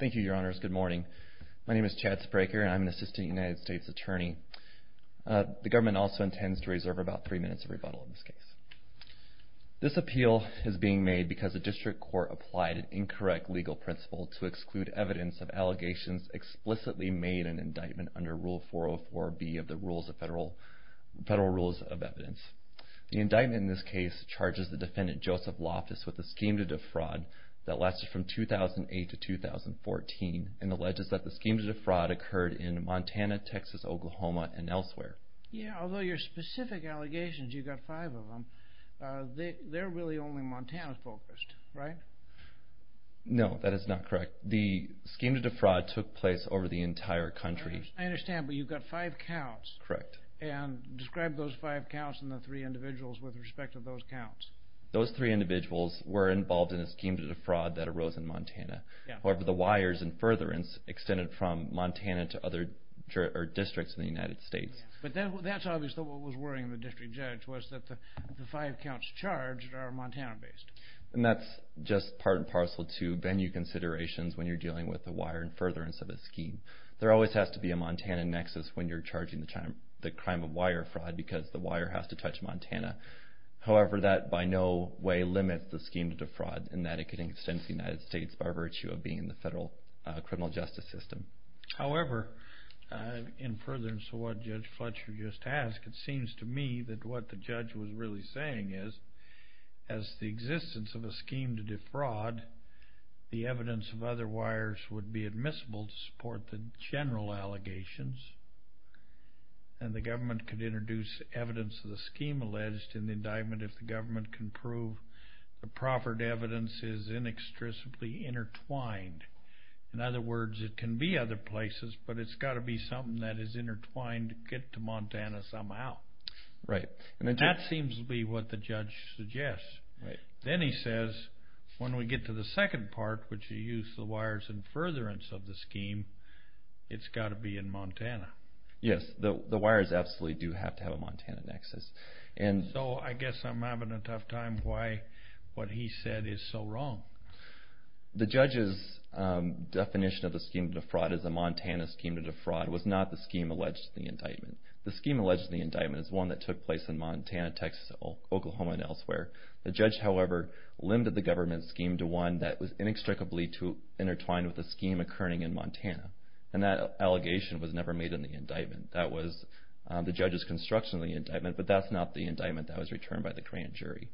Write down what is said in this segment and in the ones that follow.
Thank you, your honors. Good morning. My name is Chad Spraker, and I'm an assistant United States attorney. The government also intends to reserve about three minutes of rebuttal in this case. This appeal is being made because the district court applied an incorrect legal principle to exclude evidence of allegations explicitly made in indictment under Rule 404B of the Federal Rules of Evidence. The indictment in this case charges the defendant, Joseph Loftus, with a scheme to defraud that lasted from 2008 to 2014, and alleges that the scheme to defraud occurred in Montana, Texas, Oklahoma, and elsewhere. Yeah, although your specific allegations, you've got five of them, they're really only Montana-focused, right? No, that is not correct. The scheme to defraud took place over the entire country. I understand, but you've got five counts. Correct. And describe those five counts and the three individuals with respect to those counts. Those three individuals were involved in a scheme to defraud that arose in Montana. However, the wires and furtherance extended from Montana to other districts in the United States. But that's obviously what was worrying the district judge, was that the five counts charged are Montana-based. And that's just part and parcel to venue considerations when you're dealing with the wire and furtherance of a scheme. There always has to be a Montana nexus when you're charging the crime of wire fraud, because the wire has to touch Montana. However, that by no way limits the scheme to defraud, in that it could extend to the United States by virtue of being in the federal criminal justice system. However, in furtherance to what Judge Fletcher just asked, it seems to me that what the judge was really saying is, as the existence of a scheme to defraud, the evidence of other places, but it's got to be something that is intertwined to get to Montana somehow. That seems to be what the judge suggests. Right. Then he says, when we get to the second part, which is the use of the wires and furtherance of the scheme, it's got to be in Montana. Yes, the wires absolutely do have to have a Montana nexus. And so I guess I'm having a tough time why what he said is so wrong. The judge's definition of a scheme to defraud is a Montana scheme to defraud, was not the scheme alleged to the indictment. The scheme alleged to the indictment is one that took place in Montana, Texas, Oklahoma, and elsewhere. The judge, however, limited the government scheme to one that was inextricably intertwined with the scheme occurring in Montana. And that allegation was never made in the indictment. That was the judge's construction of the indictment, but that's not the indictment that was returned by the grand jury.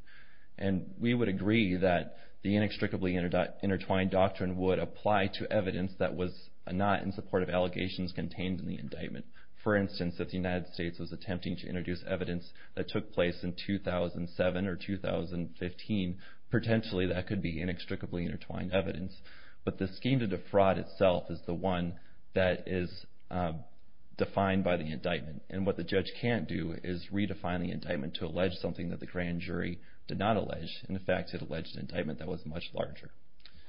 And we would agree that the inextricably intertwined doctrine would apply to evidence that was not in support of allegations contained in the indictment. For instance, if the United States was attempting to introduce evidence that took place in 2007 or 2015, potentially that could be inextricably intertwined evidence. But the scheme to defraud itself is the one that is defined by the indictment. And what the judge can't do is redefine the indictment to allege something that the grand jury did not allege. In fact, it alleged an indictment that was much larger.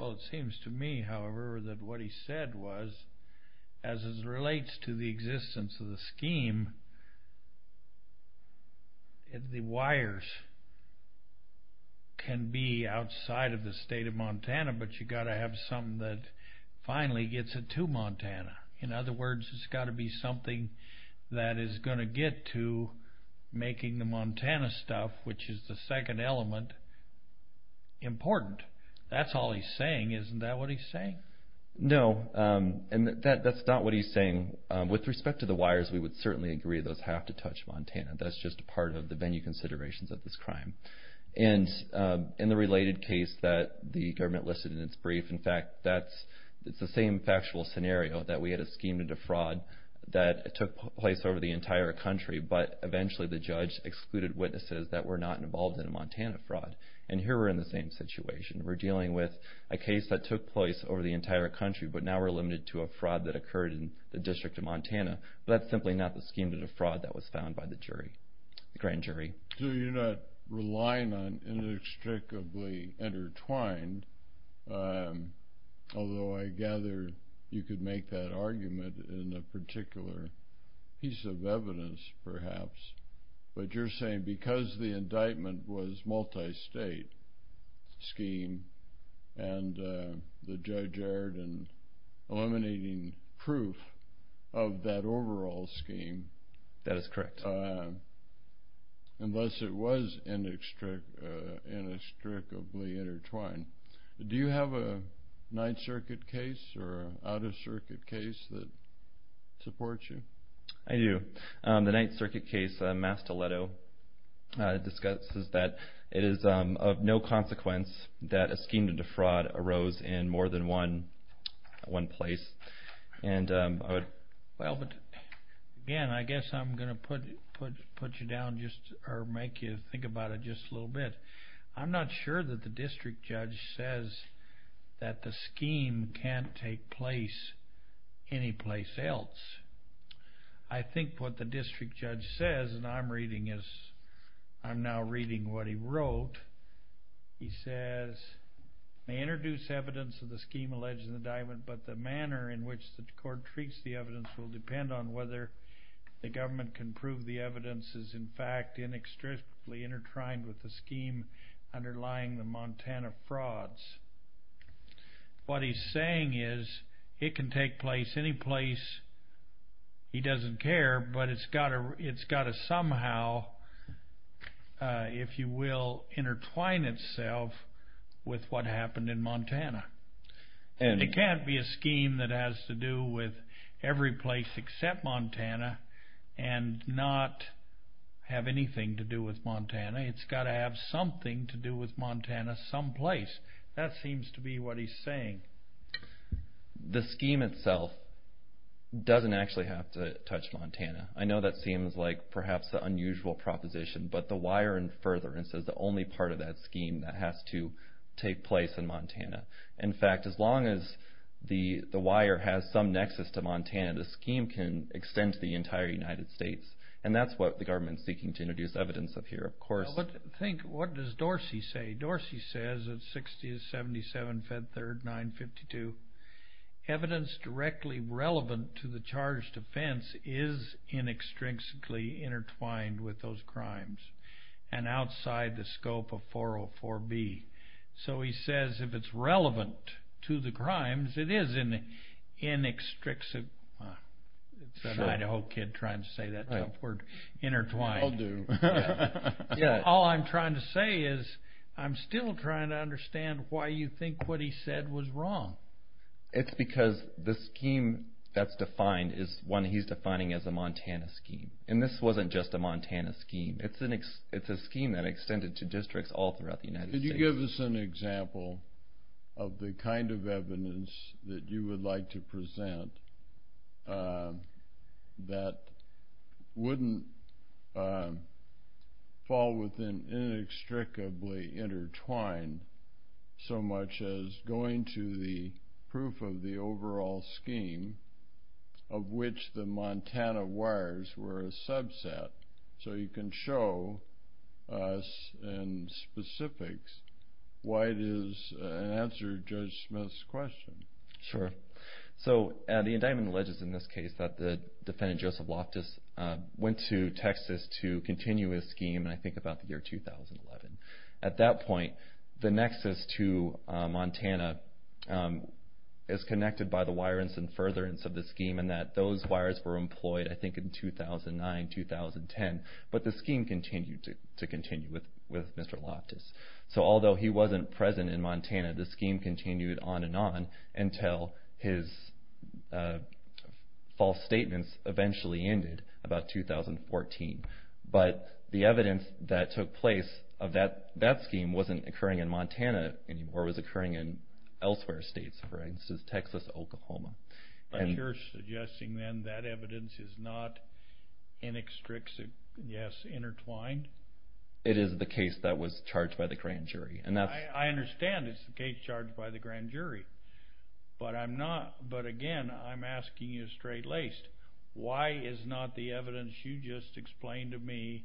Well, it seems to me, however, that what he said was, as it relates to the existence of the scheme, the wires can be outside of the state of Montana, but you've got to have something that finally gets it to Montana. In other words, it's got to be something that is going to get to making the Montana stuff, which is the second element, important. That's all he's saying. Isn't that what he's saying? No. And that's not what he's saying. With respect to the wires, we would certainly agree those have to touch Montana. That's just a part of the venue considerations of this crime. And in the related case that the government listed in its brief, in fact, that's the same factual scenario, that we had a scheme to defraud that took place over the entire country, but eventually the judge excluded witnesses that were not involved in a Montana fraud. And here we're in the same situation. We're dealing with a case that took place over the entire country, but now we're limited to a fraud that occurred in the District of Montana. But that's simply not the scheme to defraud that was found by the jury, the grand jury. So you're not relying on inextricably intertwined, although I gather you could make that argument in a particular piece of evidence, perhaps, but you're saying because the indictment was eliminating proof of that overall scheme, unless it was inextricably intertwined. Do you have a Ninth Circuit case or an out-of-circuit case that supports you? I do. The Ninth Circuit case, Mastoleto, discusses that it is of no consequence that a scheme to defraud arose in more than one place. Well, again, I guess I'm going to put you down, or make you think about it just a little bit. I'm not sure that the district judge says that the scheme can't take place anyplace else. I think what the district judge says, and I'm now reading what he wrote. He says, they introduce evidence of the scheme alleged in the indictment, but the manner in which the court treats the evidence will depend on whether the government can prove the evidence is, in fact, inextricably intertwined with the scheme underlying the Montana frauds. What he's saying is it can take place anyplace, he doesn't care, but it's got to somehow, if you will, intertwine itself with what happened in Montana. It can't be a scheme that has to do with every place except Montana and not have anything to do with Montana. It's got to have something to do with Montana someplace. That seems to be what he's saying. The scheme itself doesn't actually have to touch Montana. I know that seems like perhaps an unusual proposition, but the wire and furtherance is the only part of that scheme that has to take place in Montana. In fact, as long as the wire has some nexus to Montana, the scheme can extend to the entire United States. That's what the government's seeking to introduce evidence of here, of course. What does Dorsey say? Dorsey says, it's 60-77-5-3-952, evidence directly relevant to the charged offense is inextricably intertwined with those crimes and outside the scope of 404-B. He says if it's relevant to the crimes, it is inextricably... It's an Idaho kid trying to say that tough word, intertwined. I'll do. All I'm trying to say is I'm still trying to understand why you think what he said was wrong. It's because the scheme that's defined is one he's defining as a Montana scheme. This wasn't just a Montana scheme, it's a scheme that extended to districts all throughout the United States. Could you give us an example of the kind of evidence that you would like to present that wouldn't fall within inextricably intertwined so much as going to the proof of the overall scheme of which the Montana wires were a subset so you can show us in specifics why it is an answer to Judge Smith's question. Sure. The indictment alleges in this case that the defendant Joseph Loftus went to Texas to continue his scheme in I think about the year 2011. At that point, the nexus to Montana is connected by the wire and some furtherance of the scheme and that those wires were employed I think in 2009, 2010, but the scheme continued to continue with Mr. Loftus. So although he wasn't present in Montana, the scheme continued on and on until his false statements eventually ended about 2014. But the evidence that took place of that scheme wasn't occurring in Montana anymore, it was occurring in elsewhere states, for instance, Texas, Oklahoma. And you're suggesting then that evidence is not inextricably, yes, intertwined? It is the case that was charged by the grand jury. I understand it's the case charged by the grand jury, but again, I'm asking you straight-laced. Why is not the evidence you just explained to me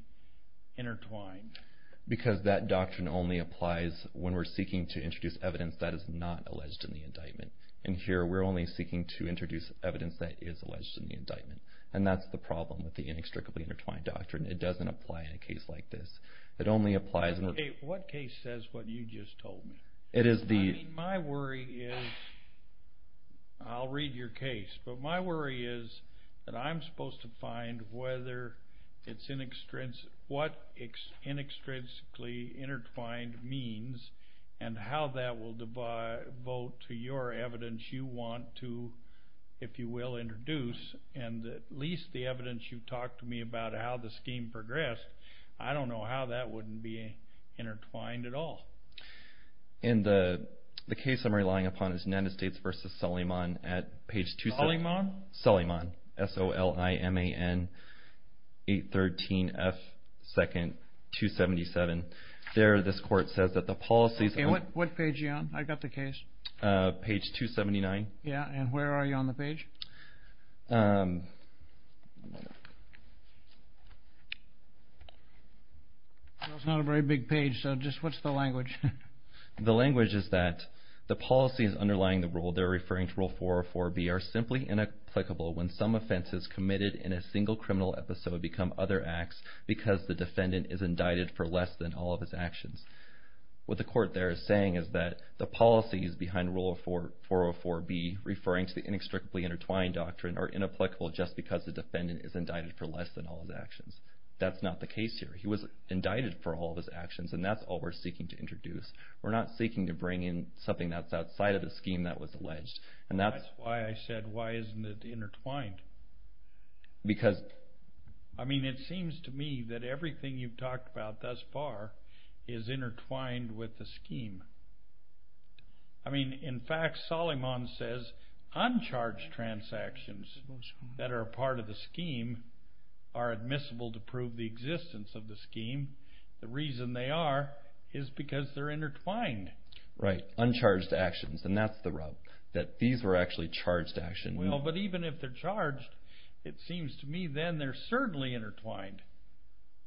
intertwined? Because that doctrine only applies when we're seeking to introduce evidence that is not alleged in the indictment. And here, we're only seeking to introduce evidence that is alleged in the indictment. And that's the problem with the inextricably intertwined doctrine. It doesn't apply in a case like this. It only applies in a... What case says what you just told me? It is the... I mean, my worry is, I'll read your case, but my worry is that I'm supposed to find whether it's inextricably, what inextricably intertwined means and how that will devote to your evidence you want to, if you will, introduce, and at least the evidence you've seen progressed, I don't know how that wouldn't be intertwined at all. In the case I'm relying upon is Nantistates v. Saliman at page 27... Saliman? Saliman, S-O-L-I-M-A-N, 813F, 2nd, 277. There this court says that the policies... What page are you on? I've got the case. Page 279. Yeah, and where are you on the page? Well, it's not a very big page, so just what's the language? The language is that the policies underlying the rule, they're referring to Rule 404B, are simply inapplicable when some offenses committed in a single criminal episode become other acts because the defendant is indicted for less than all of his actions. What the court there is saying is that the policies behind Rule 404B, referring to the Inextricably Intertwined Doctrine, are inapplicable just because the defendant is indicted for less than all of his actions. That's not the case here. He was indicted for all of his actions, and that's all we're seeking to introduce. We're not seeking to bring in something that's outside of the scheme that was alleged, and that's... That's why I said, why isn't it intertwined? Because... I mean, it seems to me that everything you've talked about thus far is intertwined with the scheme. I mean, in fact, Solomon says, uncharged transactions that are a part of the scheme are admissible to prove the existence of the scheme. The reason they are is because they're intertwined. Right. Uncharged actions, and that's the rub, that these were actually charged actions. Well, but even if they're charged, it seems to me then they're certainly intertwined.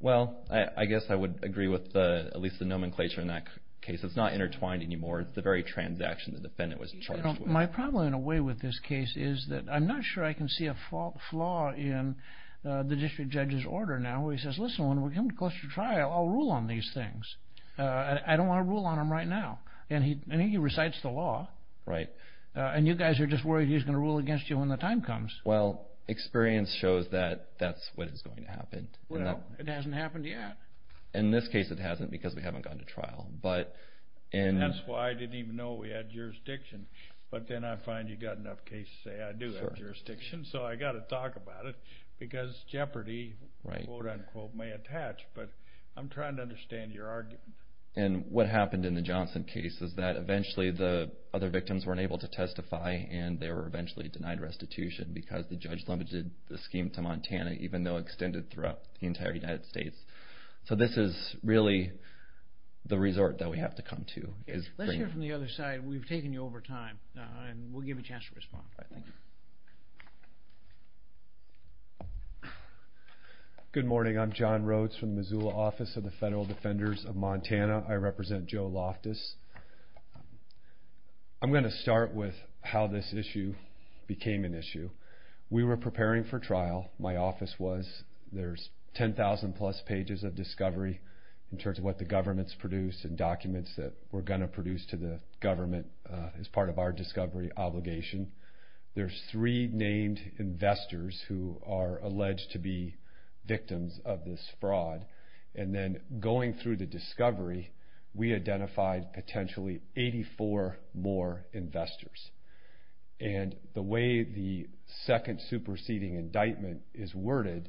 Well, I guess I would agree with at least the nomenclature in that case. It's not intertwined anymore. It's the very transaction the defendant was charged with. My problem, in a way, with this case is that I'm not sure I can see a flaw in the district judge's order now where he says, listen, when we come close to trial, I'll rule on these things. I don't want to rule on them right now. And he recites the law, and you guys are just worried he's going to rule against you when the time comes. Well, experience shows that that's what is going to happen. Well, it hasn't happened yet. In this case, it hasn't because we haven't gone to trial. And that's why I didn't even know we had jurisdiction, but then I find you've got enough cases to say I do have jurisdiction, so I got to talk about it because jeopardy, quote, unquote, may attach. But I'm trying to understand your argument. And what happened in the Johnson case is that eventually the other victims weren't able to testify, and they were eventually denied restitution because the judge limited the scheme to Montana, even though extended throughout the entire United States. So this is really the resort that we have to come to. Let's hear from the other side. We've taken you over time, and we'll give you a chance to respond, I think. Good morning. I'm John Rhodes from the Missoula Office of the Federal Defenders of Montana. I represent Joe Loftus. I'm going to start with how this issue became an issue. We were preparing for trial. My office was. There's 10,000-plus pages of discovery in terms of what the government's produced and documents that we're going to produce to the government as part of our discovery obligation. There's three named investors who are alleged to be victims of this fraud. And then going through the discovery, we identified potentially 84 more investors. And the way the second superseding indictment is worded,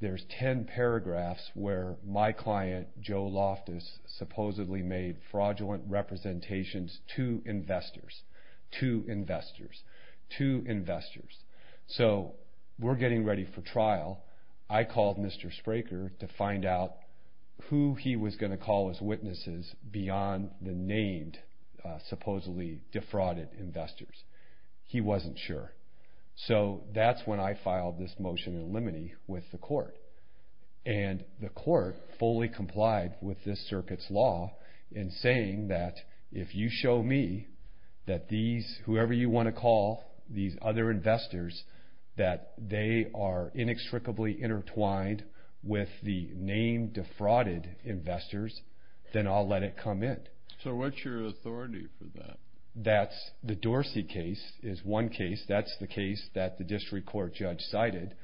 there's 10 paragraphs where my client, Joe Loftus, supposedly made fraudulent representations to investors, to investors, to investors. So we're getting ready for trial. I called Mr. Spraker to find out who he was going to call as witnesses beyond the named supposedly defrauded investors. He wasn't sure. So that's when I filed this motion in limine with the court. And the court fully complied with this circuit's law in saying that if you show me that these, whoever you want to call, these other investors, that they are inextricably intertwined with the named defrauded investors, then I'll let it come in. So what's your authority for that? That's the Dorsey case is one case. That's the case that the district court judge cited.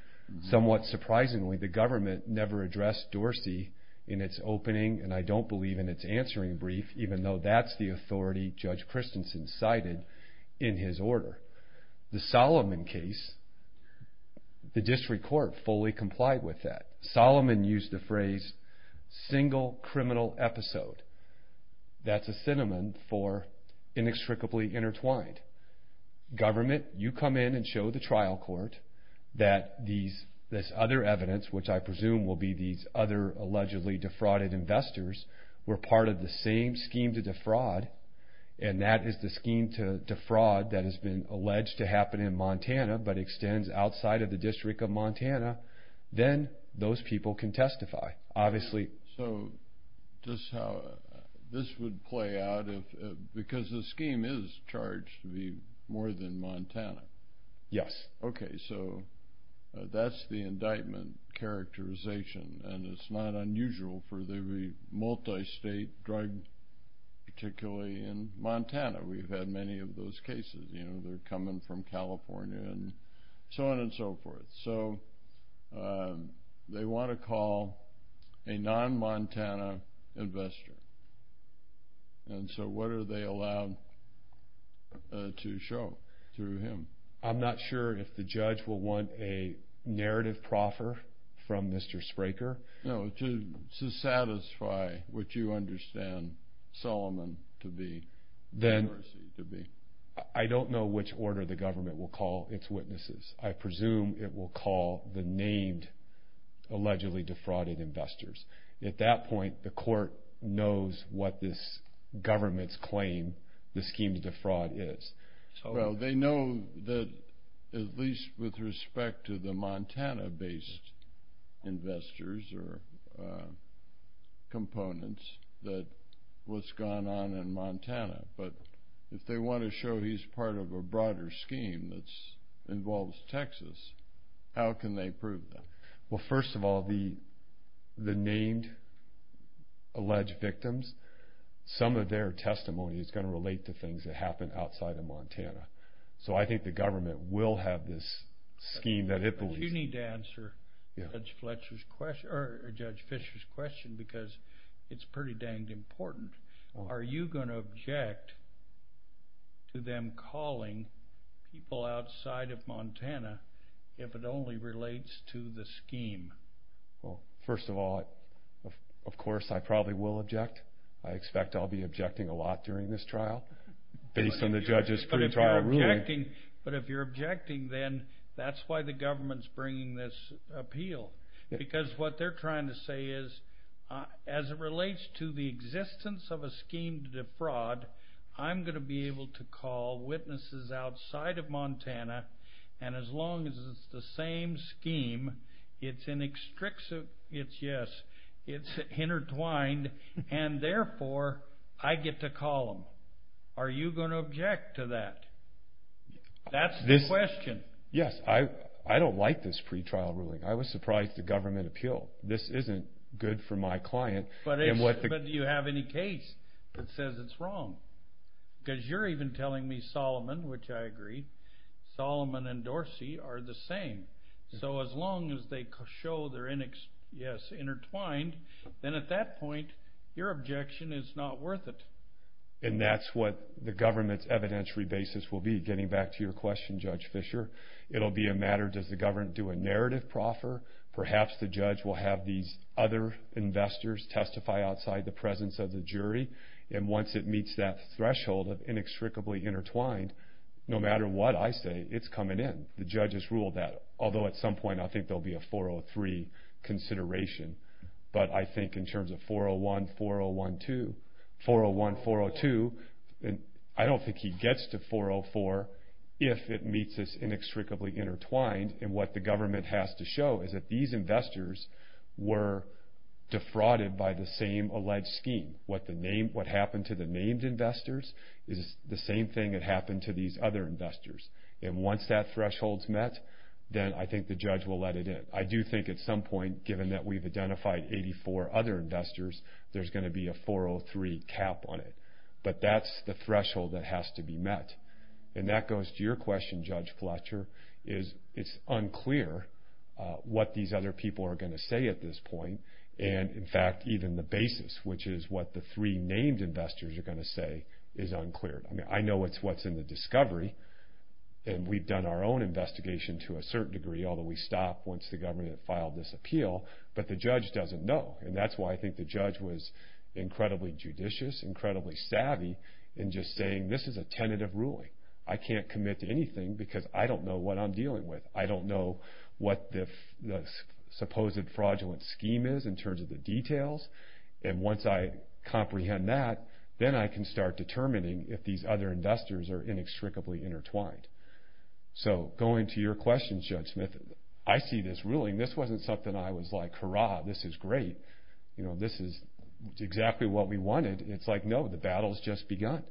Somewhat surprisingly, the government never addressed Dorsey in its opening, and I don't believe in its answering brief, even though that's the authority Judge Christensen cited in his order. The Solomon case, the district court fully complied with that. Solomon used the phrase, single criminal episode. That's a synonym for inextricably intertwined. Government, you come in and show the trial court that this other evidence, which I presume will be these other allegedly defrauded investors, were part of the same scheme to defraud. And that is the scheme to defraud that has been alleged to happen in Montana, but extends outside of the district of Montana. Then those people can testify, obviously. So just how this would play out, because the scheme is charged to be more than Montana. Yes. Okay. So that's the indictment characterization. And it's not unusual for the multi-state drug, particularly in Montana. We've had many of those cases. You know, they're coming from California and so on and so forth. So they want to call a non-Montana investor. And so what are they allowed to show through him? I'm not sure if the judge will want a narrative proffer from Mr. Spraker. No, to satisfy what you understand Solomon to be, or Mercy to be. I don't know which order the government will call its witnesses. I presume it will call the named, allegedly defrauded investors. At that point, the court knows what this government's claim, the scheme to defraud is. Well, they know that, at least with respect to the Montana-based investors or components, but if they want to show he's part of a broader scheme that involves Texas, how can they prove that? Well, first of all, the named alleged victims, some of their testimony is going to relate to things that happened outside of Montana. So I think the government will have this scheme that it believes- You need to answer Judge Fischer's question, because it's pretty dang important. Are you going to object to them calling people outside of Montana if it only relates to the scheme? Well, first of all, of course I probably will object. I expect I'll be objecting a lot during this trial, based on the judge's pre-trial ruling. But if you're objecting, then that's why the government's bringing this appeal. Because what they're trying to say is, as it relates to the existence of a scheme to defraud, I'm going to be able to call witnesses outside of Montana, and as long as it's the same scheme, it's inextricable, it's yes, it's intertwined, and therefore, I get to call them. Are you going to object to that? That's the question. Yes. I don't like this pre-trial ruling. I was surprised the government appealed. This isn't good for my client. But do you have any case that says it's wrong? Because you're even telling me, Solomon, which I agree, Solomon and Dorsey are the same. So as long as they show they're, yes, intertwined, then at that point, your objection is not worth it. And that's what the government's evidentiary basis will be. Getting back to your question, Judge Fischer, it'll be a matter, does the government do a narrative proffer? Perhaps the judge will have these other investors testify outside the presence of the jury. And once it meets that threshold of inextricably intertwined, no matter what I say, it's coming in. The judge has ruled that, although at some point, I think there'll be a 403 consideration. But I think in terms of 401, 401-2, 401, 402, I don't think he gets to 404 if it meets this inextricably intertwined. And what the government has to show is that these investors were defrauded by the same alleged scheme. What happened to the named investors is the same thing that happened to these other investors. And once that threshold's met, then I think the judge will let it in. I do think at some point, given that we've identified 84 other investors, there's going to be a 403 cap on it. But that's the threshold that has to be met. And that goes to your question, Judge Fletcher, is it's unclear what these other people are going to say at this point. And in fact, even the basis, which is what the three named investors are going to say, is unclear. I mean, I know it's what's in the discovery. And we've done our own investigation to a certain degree, although we stopped once the government had filed this appeal. But the judge doesn't know. And that's why I think the judge was incredibly judicious, incredibly savvy, in just saying this is a tentative ruling. I can't commit to anything because I don't know what I'm dealing with. I don't know what the supposed fraudulent scheme is in terms of the details. And once I comprehend that, then I can start determining if these other investors are inextricably intertwined. So going to your question, Judge Smith, I see this ruling. This wasn't something I was like, hurrah, this is great. This is exactly what we wanted. It's like, no, the battle's just begun.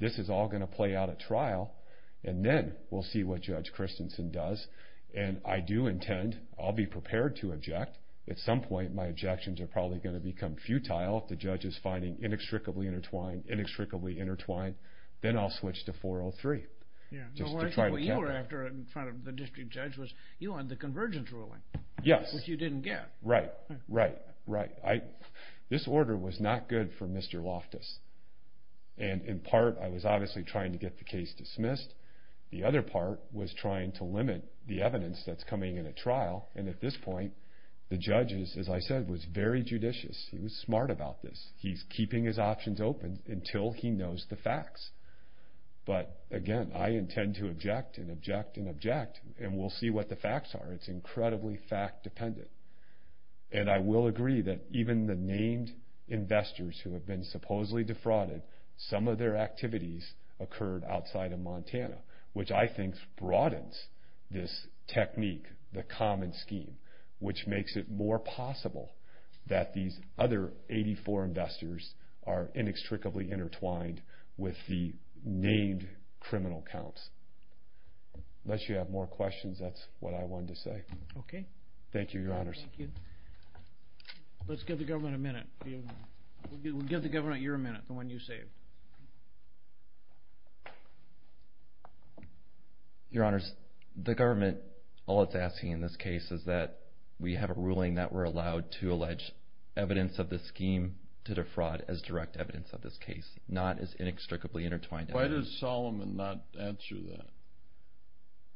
This is all going to play out at trial. And then we'll see what Judge Christensen does. And I do intend, I'll be prepared to object. At some point, my objections are probably going to become futile if the judge is finding inextricably intertwined, inextricably intertwined. Then I'll switch to 403. Yeah. No, what I said when you were after it in front of the district judge was you wanted the convergence ruling. Yes. Which you didn't get. Right, right, right. This order was not good for Mr. Loftus. And in part, I was obviously trying to get the case dismissed. The other part was trying to limit the evidence that's coming in at trial. And at this point, the judge is, as I said, was very judicious. He was smart about this. He's keeping his options open until he knows the facts. But again, I intend to object and object and object. And we'll see what the facts are. It's incredibly fact dependent. And I will agree that even the named investors who have been supposedly defrauded, some of their activities occurred outside of Montana, which I think broadens this technique, the common scheme, which makes it more possible that these other 84 investors are inextricably intertwined with the named criminal counts. Unless you have more questions, that's what I wanted to say. Okay. Thank you, Your Honors. Let's give the government a minute. We'll give the government your minute, the one you saved. Your Honors, the government, all it's asking in this case is that we have a ruling that we're allowed to allege evidence of the scheme to defraud as direct evidence of this case, not as inextricably intertwined. Why does Solomon not answer that?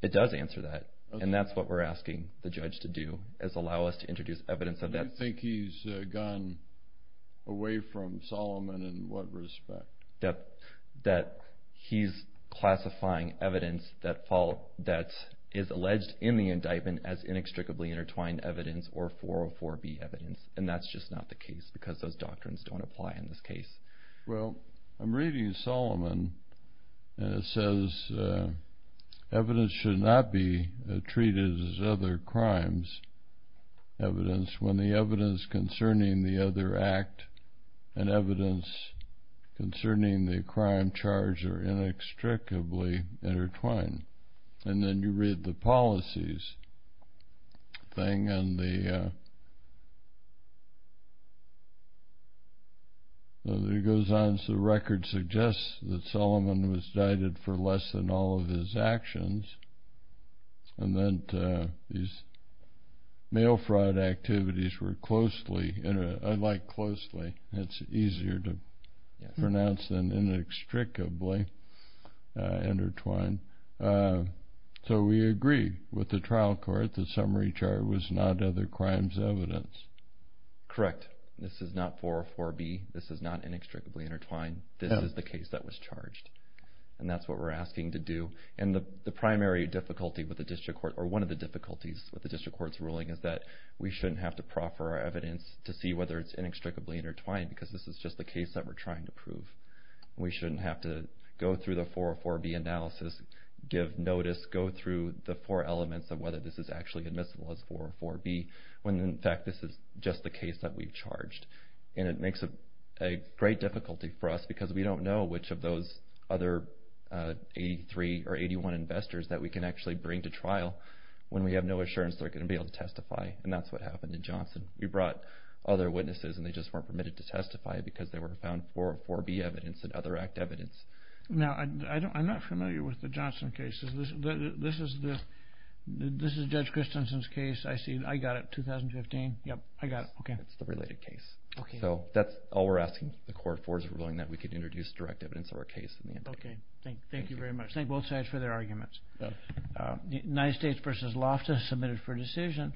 It does answer that. And that's what we're asking the judge to do, is allow us to introduce evidence of that. You think he's gone away from Solomon in what respect? That he's classifying evidence that is alleged in the indictment as inextricably intertwined evidence or 404B evidence. And that's just not the case because those doctrines don't apply in this case. Well, I'm reading Solomon and it says evidence should not be treated as other crimes evidence when the evidence concerning the other act and evidence concerning the crime charge are inextricably intertwined. And then you read the policies thing and the other thing that goes on is the record suggests that Solomon was cited for less than all of his actions. And then these mail fraud activities were closely, and I like closely, it's easier to pronounce than inextricably intertwined. So we agree with the trial court that summary charge was not other crimes evidence. Correct. This is not 404B. This is not inextricably intertwined. This is the case that was charged. And that's what we're asking to do. And the primary difficulty with the district court, or one of the difficulties with the district court's ruling is that we shouldn't have to proffer our evidence to see whether it's inextricably intertwined because this is just the case that we're trying to prove. We shouldn't have to go through the 404B analysis, give notice, go through the four elements of whether this is actually admissible as 404B when in fact this is just the case that we've charged. And it makes a great difficulty for us because we don't know which of those other 83 or 81 investors that we can actually bring to trial when we have no assurance they're going to be able to testify. And that's what happened in Johnson. We brought other witnesses and they just weren't permitted to testify because they were found 404B evidence and other act evidence. Now, I'm not familiar with the Johnson cases. This is Judge Christensen's case. I got it. 2015. Yep. I got it. Okay. It's the related case. So that's all we're asking the court for is a ruling that we could introduce direct evidence of our case. Okay. Thank you very much. Thank both sides for their arguments. United States v. Loftus submitted for decision.